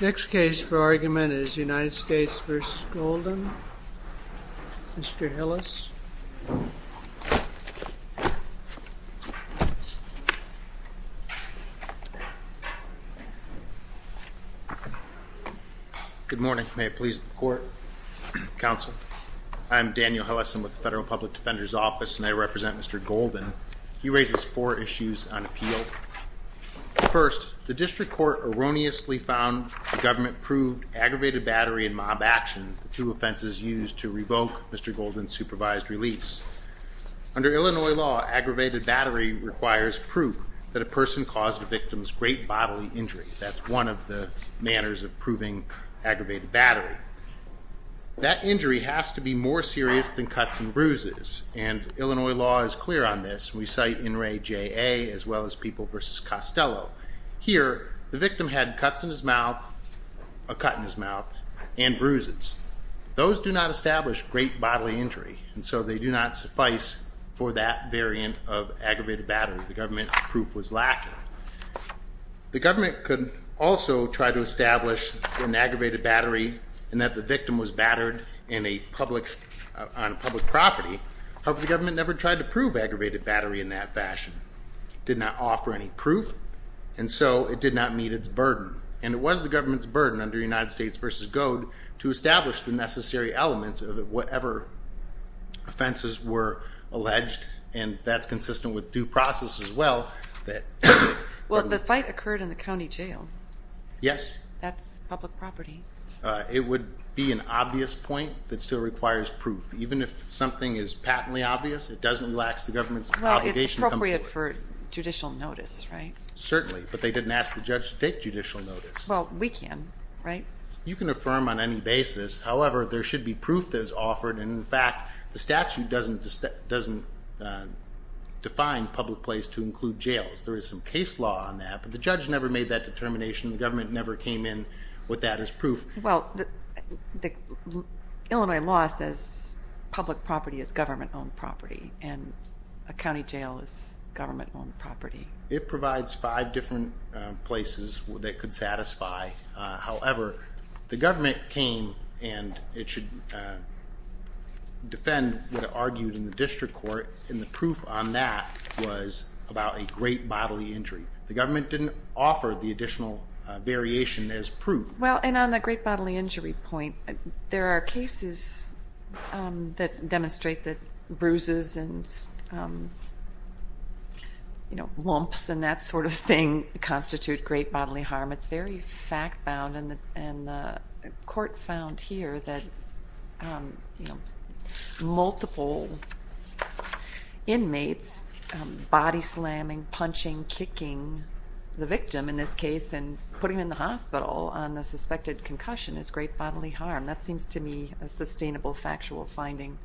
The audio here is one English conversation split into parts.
Next case for argument is United States v. Golden. Mr. Hillis. Good morning. May it please the court. Counsel, I'm Daniel Hillison with the Federal Public Defender's Office and I represent Mr. Golden. He raises four wrongly found government-approved aggravated battery and mob action, the two offenses used to revoke Mr. Golden's supervised release. Under Illinois law, aggravated battery requires proof that a person caused a victim's great bodily injury. That's one of the manners of proving aggravated battery. That injury has to be more serious than cuts and bruises and Illinois law is clear on this. We cite NRA JA as well as People v. Costello. Here, the victim had cuts in his mouth, a cut in his mouth, and bruises. Those do not establish great bodily injury and so they do not suffice for that variant of aggravated battery. The government proof was lacking. The government could also try to establish an aggravated battery and that the victim was battered in a public, on public property. However, the government never tried to prove aggravated battery in that fashion. It did not offer any proof and so it did not meet its burden and it was the government's burden under United States v. Goad to establish the necessary elements of whatever offenses were alleged and that's consistent with due process as well. Well, the fight occurred in the county jail. Yes. That's public place to include jails. There is some case law on that, but the judge never made that determination. The government never came in with that as proof. Well, it's appropriate for judicial notice, right? Certainly, but they didn't ask the judge to take judicial notice. Well, we can, right? You can affirm on any basis. However, there should be proof that is offered and in fact, the statute doesn't define public place to include jails. There is some case law on that, but the judge never made that determination. The government never came in with that as proof. Well, the Illinois law says public property is government owned property and a county jail is government owned property. It provides five different places that could satisfy. However, the government came and it should defend what it argued in the district court and the proof on that was about a great bodily injury. The government didn't offer the additional variation as proof. Well, and on the great bodily injury point, there are cases that demonstrate that bruises and lumps and that sort of thing constitute great bodily harm. It's very fact bound and the court found here that multiple inmates body slamming, punching, kicking the victim in this case and putting him in the hospital on the suspected concussion is great bodily harm. That seems to me a sustainable factual finding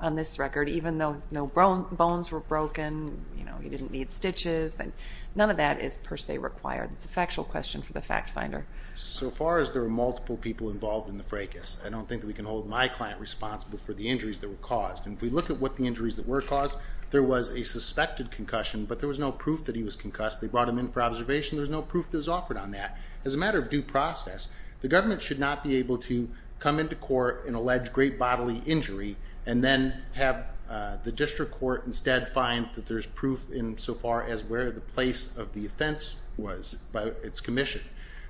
on this record, even though no bones were broken, you know, he didn't need stitches and none of that is per se required. It's a factual question for the fact finder. So far as there are multiple people involved in the fracas, I don't think that we can hold my client responsible for the injuries that were caused. And if we look at what the injuries that were caused, there was a suspected concussion, but there was no proof that he was concussed. They brought him in for observation. There's no proof that was offered on that. As a matter of due process, the government should not be able to come into court and say, there was an alleged great bodily injury, and then have the district court instead find that there's proof in so far as where the place of the offense was by its commission.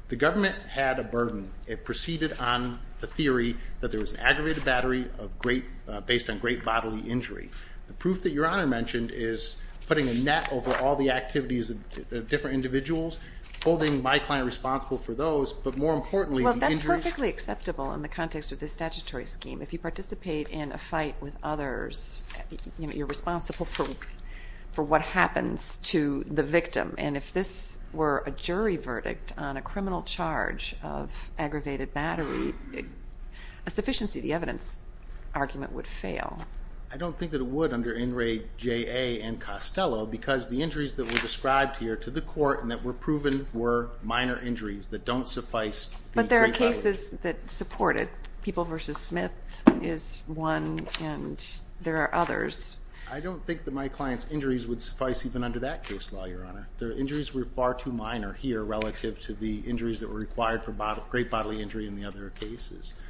The government had a burden. It proceeded on the theory that there was an aggravated battery of great, based on great bodily injury. The proof that your honor mentioned is putting a net over all the activities of different individuals, holding my client responsible for those, but more importantly, that's perfectly acceptable in the context of this statutory statute. If you participate in a fight with others, you're responsible for what happens to the victim. And if this were a jury verdict on a criminal charge of aggravated battery, a sufficiency of the evidence argument would fail. I don't think that it would under NRAJA and Costello, because the injuries that were described here to the court and that were proven were minor injuries that don't suffice the great bodily injury. The cases that supported people versus Smith is one, and there are others. I don't think that my client's injuries would suffice even under that case law, your honor. The injuries were far too minor here relative to the injuries that were required for great bodily injury in the other cases.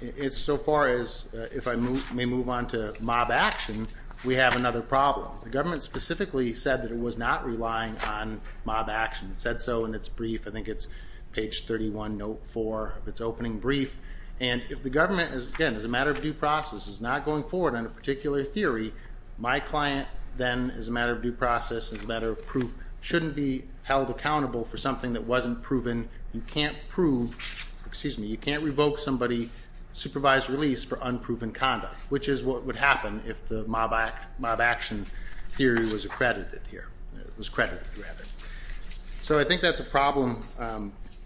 It's so far as, if I may move on to mob action, we have another problem. The government specifically said that it was not relying on mob action. It said so in its brief, I think it's page 31, note 4 of its opening brief. And if the government, again, as a matter of due process, is not going forward on a particular theory, my client then, as a matter of due process, as a matter of proof, shouldn't be held accountable for something that wasn't proven. You can't prove, excuse me, you can't revoke somebody's supervised release for unproven conduct, which is what would happen if the mob action theory was accredited here, was credited rather. So I think that's a problem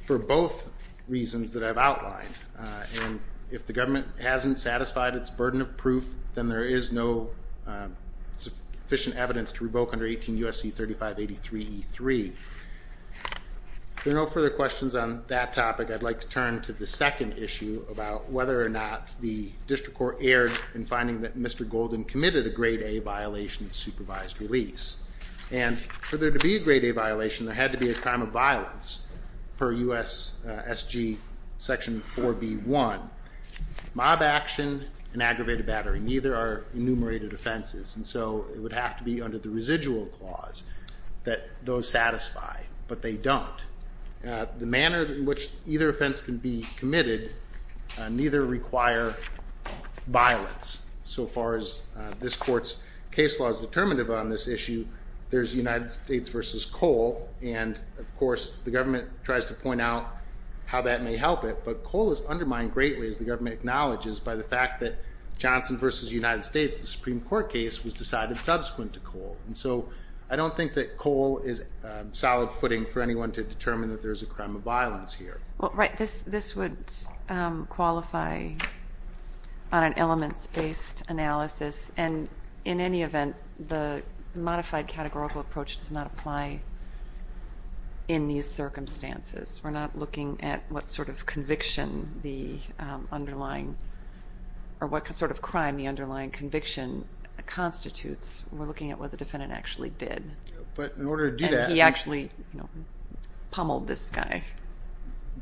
for both reasons that I've outlined. And if the government hasn't satisfied its burden of proof, then there is no sufficient evidence to revoke under 18 U.S.C. 3583E3. If there are no further questions on that topic, I'd like to turn to the second issue about whether or not the district court erred in finding that Mr. Golden committed a grade A violation of supervised release. And for there to be a grade A violation, there had to be a crime of violence per U.S.S.G. section 4B.1. Mob action and aggravated battery, neither are enumerated offenses. And so it would have to be under the residual clause that those satisfy, but they don't. The manner in which either offense can be committed, neither require violence. So far as this court's case law is determinative on this issue, there's United States v. Cole. And, of course, the government tries to point out how that may help it. But Cole is undermined greatly, as the government acknowledges, by the fact that Johnson v. United States, the Supreme Court case, was decided subsequent to Cole. And so I don't think that Cole is solid footing for anyone to determine that there's a crime of violence here. Well, right, this would qualify on an elements-based analysis. And in any event, the modified categorical approach does not apply in these circumstances. We're not looking at what sort of conviction the underlying or what sort of crime the underlying conviction constitutes. We're looking at what the defendant actually did. And he actually pummeled this guy.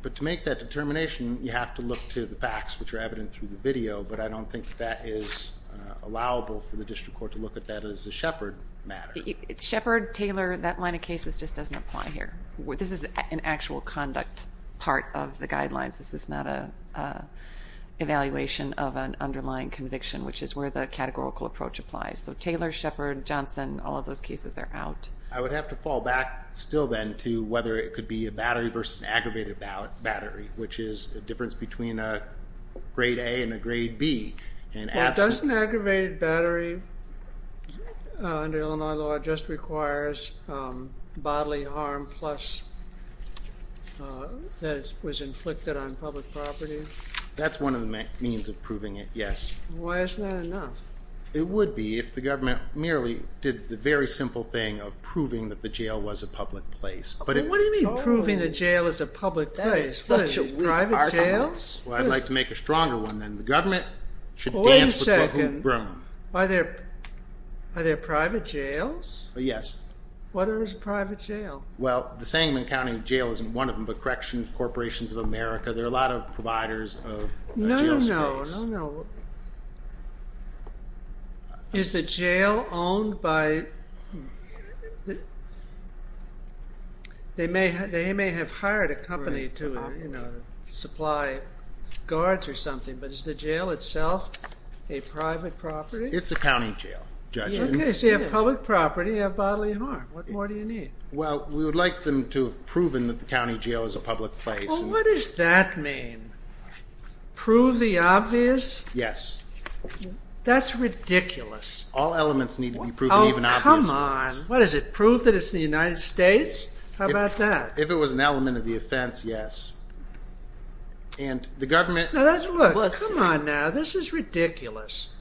But to make that determination, you have to look to the facts, which are evident through the video. But I don't think that is allowable for the district court to look at that as a Shepard matter. Shepard, Taylor, that line of cases just doesn't apply here. This is an actual conduct part of the guidelines. This is not an evaluation of an underlying conviction, which is where the categorical approach applies. So Taylor, Shepard, Johnson, all of those cases are out. I would have to fall back still then to whether it could be a battery versus an aggravated battery, which is the difference between a grade A and a grade B. Well, doesn't aggravated battery under Illinois law just requires bodily harm plus that it was inflicted on public property? That's one of the means of proving it, yes. Why isn't that enough? It would be if the government merely did the very simple thing of proving that the jail was a public place. But what do you mean proving the jail is a public place? That is such a weak argument. Private jails? Well, I'd like to make a stronger one then. The government should dance with the hoop room. Wait a second. Are there private jails? Yes. What is a private jail? Well, the Sangamon County Jail isn't one of them, but Corrections Corporations of America, there are a lot of providers of jail space. No, no, no. Is the jail owned by – they may have hired a company to supply guards or something, but is the jail itself a private property? It's a county jail, Judge. Okay, so you have public property, you have bodily harm. What more do you need? Well, we would like them to have proven that the county jail is a public place. Well, what does that mean? Prove the obvious? Yes. That's ridiculous. All elements need to be proven, even obvious ones. Oh, come on. What is it, proof that it's the United States? How about that? If it was an element of the offense, yes. And the government – Now that's – look, come on now. This is ridiculous.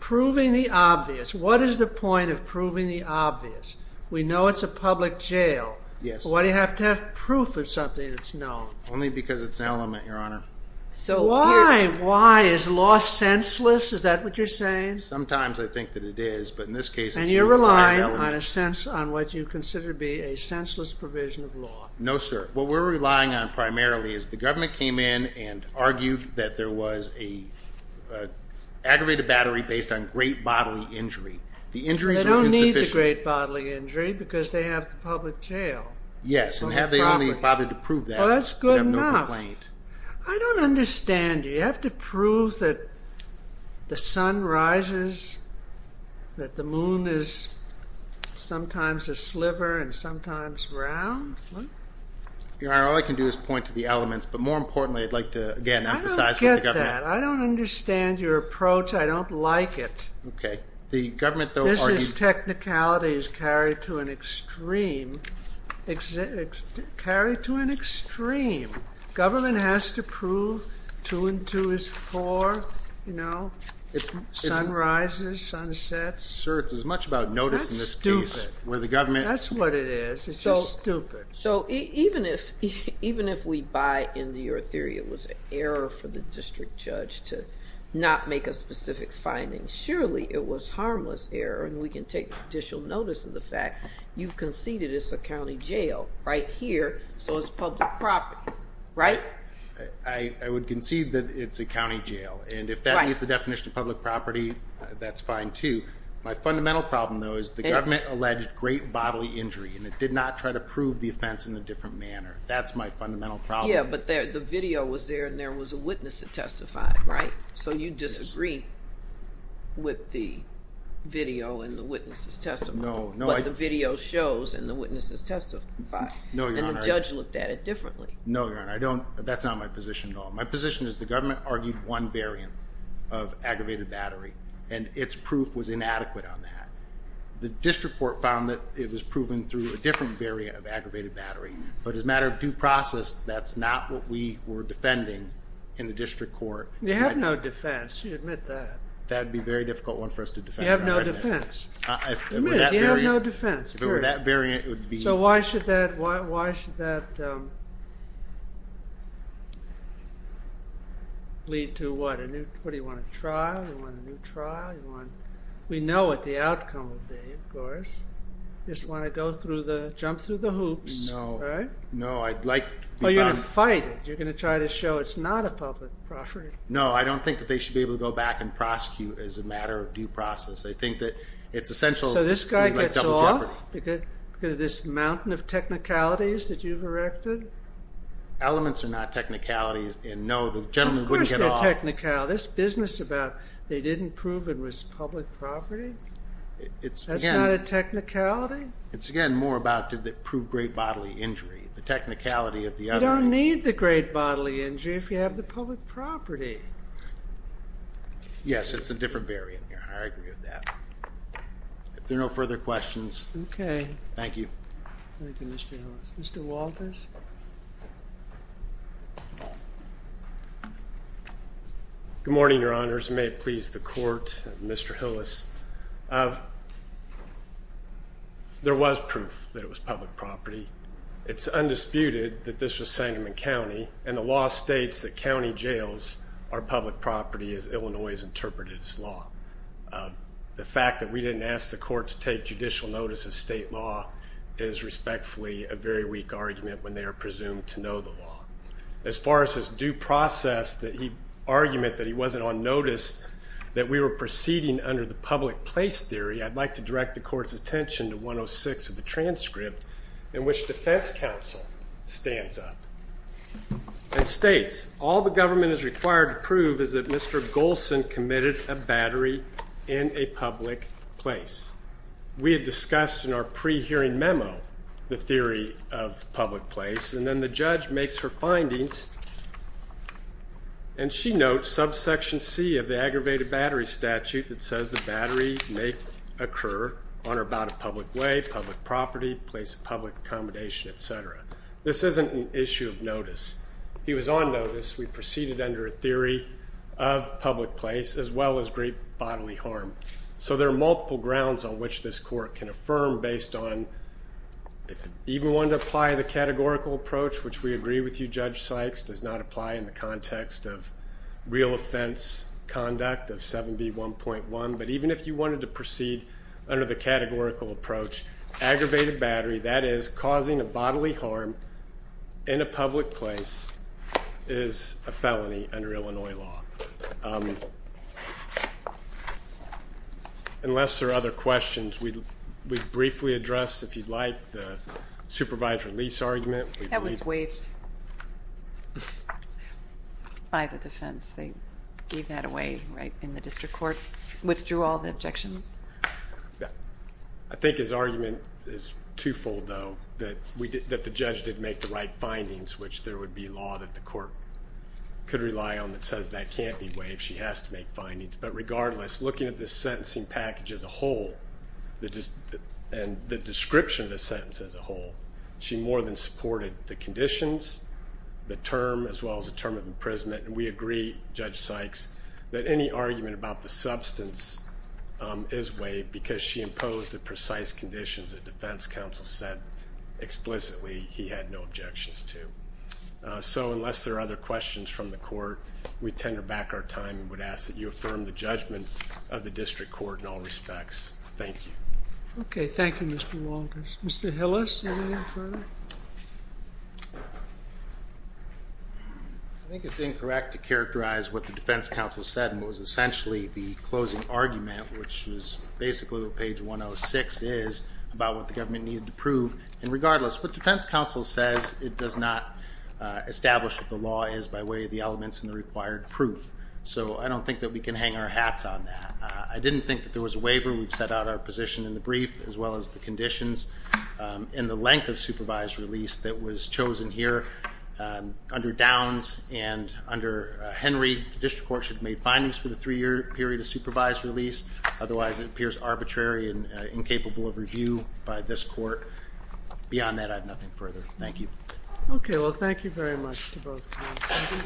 Proving the obvious. What is the point of proving the obvious? We know it's a public jail. Yes. Why do you have to have proof of something that's known? Only because it's an element, Your Honor. Why? Why? Is law senseless? Is that what you're saying? Sometimes I think that it is, but in this case it's an element. And you're relying on what you consider to be a senseless provision of law. No, sir. What we're relying on primarily is the government came in and argued that there was an aggravated battery based on great bodily injury. The injuries were insufficient. They don't need the great bodily injury because they have the public jail. Yes, and have they only bothered to prove that? Well, that's good enough. They have no complaint. I don't understand you. You have to prove that the sun rises, that the moon is sometimes a sliver and sometimes round? Your Honor, all I can do is point to the elements. But more importantly, I'd like to, again, emphasize what the government – I don't get that. I don't understand your approach. I don't like it. Okay. The government, though, argues – This technicality is carried to an extreme. Government has to prove two and two is four, sun rises, sun sets. Sir, it's as much about notice in this case where the government – That's stupid. That's what it is. It's just stupid. So even if we buy into your theory it was an error for the district judge to not make a specific finding, surely it was harmless error and we can take judicial notice of the fact you've conceded it's a county jail right here, so it's public property, right? I would concede that it's a county jail. And if that meets the definition of public property, that's fine, too. My fundamental problem, though, is the government alleged great bodily injury and it did not try to prove the offense in a different manner. That's my fundamental problem. Yeah, but the video was there and there was a witness that testified, right? So you disagree. With the video and the witness's testimony. No, no. But the video shows and the witnesses testify. No, Your Honor. And the judge looked at it differently. No, Your Honor. I don't. That's not my position at all. My position is the government argued one variant of aggravated battery and its proof was inadequate on that. The district court found that it was proven through a different variant of aggravated battery. But as a matter of due process, that's not what we were defending in the district court. You have no defense. You admit that. That would be a very difficult one for us to defend. You have no defense. Admit it. You have no defense. If it were that variant, it would be. So why should that lead to what? Do you want a trial? Do you want a new trial? We know what the outcome will be, of course. You just want to go through the, jump through the hoops, right? No, I'd like to be found. You're going to fight it. You're going to try to show it's not a public property. No, I don't think that they should be able to go back and prosecute as a matter of due process. I think that it's essential. So this guy gets off because of this mountain of technicalities that you've erected? Elements are not technicalities, and no, the gentleman wouldn't get off. Of course they're technicalities. This business about they didn't prove it was public property, that's not a technicality? It's, again, more about did it prove great bodily injury. The technicality of the other. You don't need the great bodily injury if you have the public property. Yes, it's a different barrier here. I agree with that. If there are no further questions. Okay. Thank you. Thank you, Mr. Hillis. Mr. Walters. Good morning, Your Honors. May it please the Court, Mr. Hillis. There was proof that it was public property. It's undisputed that this was Sangamon County, and the law states that county jails are public property as Illinois has interpreted its law. The fact that we didn't ask the Court to take judicial notice of state law is respectfully a very weak argument when they are presumed to know the law. As far as his due process argument that he wasn't on notice that we were proceeding under the public place theory, I'd like to direct the Court's attention to 106 of the transcript in which defense counsel stands up and states all the government is required to prove is that Mr. Golson committed a battery in a public place. We had discussed in our pre-hearing memo the theory of public place, and then the judge makes her findings, and she notes subsection C of the aggravated battery statute that says the battery may occur on or about a public way, public property, place of public accommodation, et cetera. This isn't an issue of notice. He was on notice. We proceeded under a theory of public place as well as great bodily harm. So there are multiple grounds on which this Court can affirm based on, if you even want to apply the categorical approach, which we agree with you, Judge Sykes, does not apply in the context of real offense conduct of 7B1.1, but even if you wanted to proceed under the categorical approach, aggravated battery, that is causing a bodily harm in a public place, is a felony under Illinois law. Unless there are other questions, we'd briefly address, if you'd like, the supervisor lease argument. That was waived by the defense. They gave that away right in the district court, withdrew all the objections. Yeah. I think his argument is twofold, though, that the judge did make the right findings, which there would be law that the court could rely on that says that can't be waived. She has to make findings. But regardless, looking at the sentencing package as a whole and the description of the sentence as a whole, she more than supported the conditions, the term, as well as the term of imprisonment, and we agree, Judge Sykes, that any argument about the substance is waived because she imposed the precise conditions that defense counsel said explicitly he had no objections to. So unless there are other questions from the court, we tender back our time and would ask that you affirm the judgment of the district court in all respects. Thank you. Okay. Thank you, Mr. Walters. Mr. Hillis, anything further? I think it's incorrect to characterize what the defense counsel said was essentially the closing argument, which is basically what page 106 is about what the government needed to prove. And regardless, what defense counsel says, it does not establish what the law is by way of the elements in the required proof. So I don't think that we can hang our hats on that. I didn't think that there was a waiver. We've set out our position in the brief, as well as the conditions, and the length of supervised release that was chosen here under Downs and under Henry. The district court should have made findings for the three-year period of supervised release. Otherwise, it appears arbitrary and incapable of review by this court. Beyond that, I have nothing further. Thank you. Okay. Well, thank you very much to both counsels.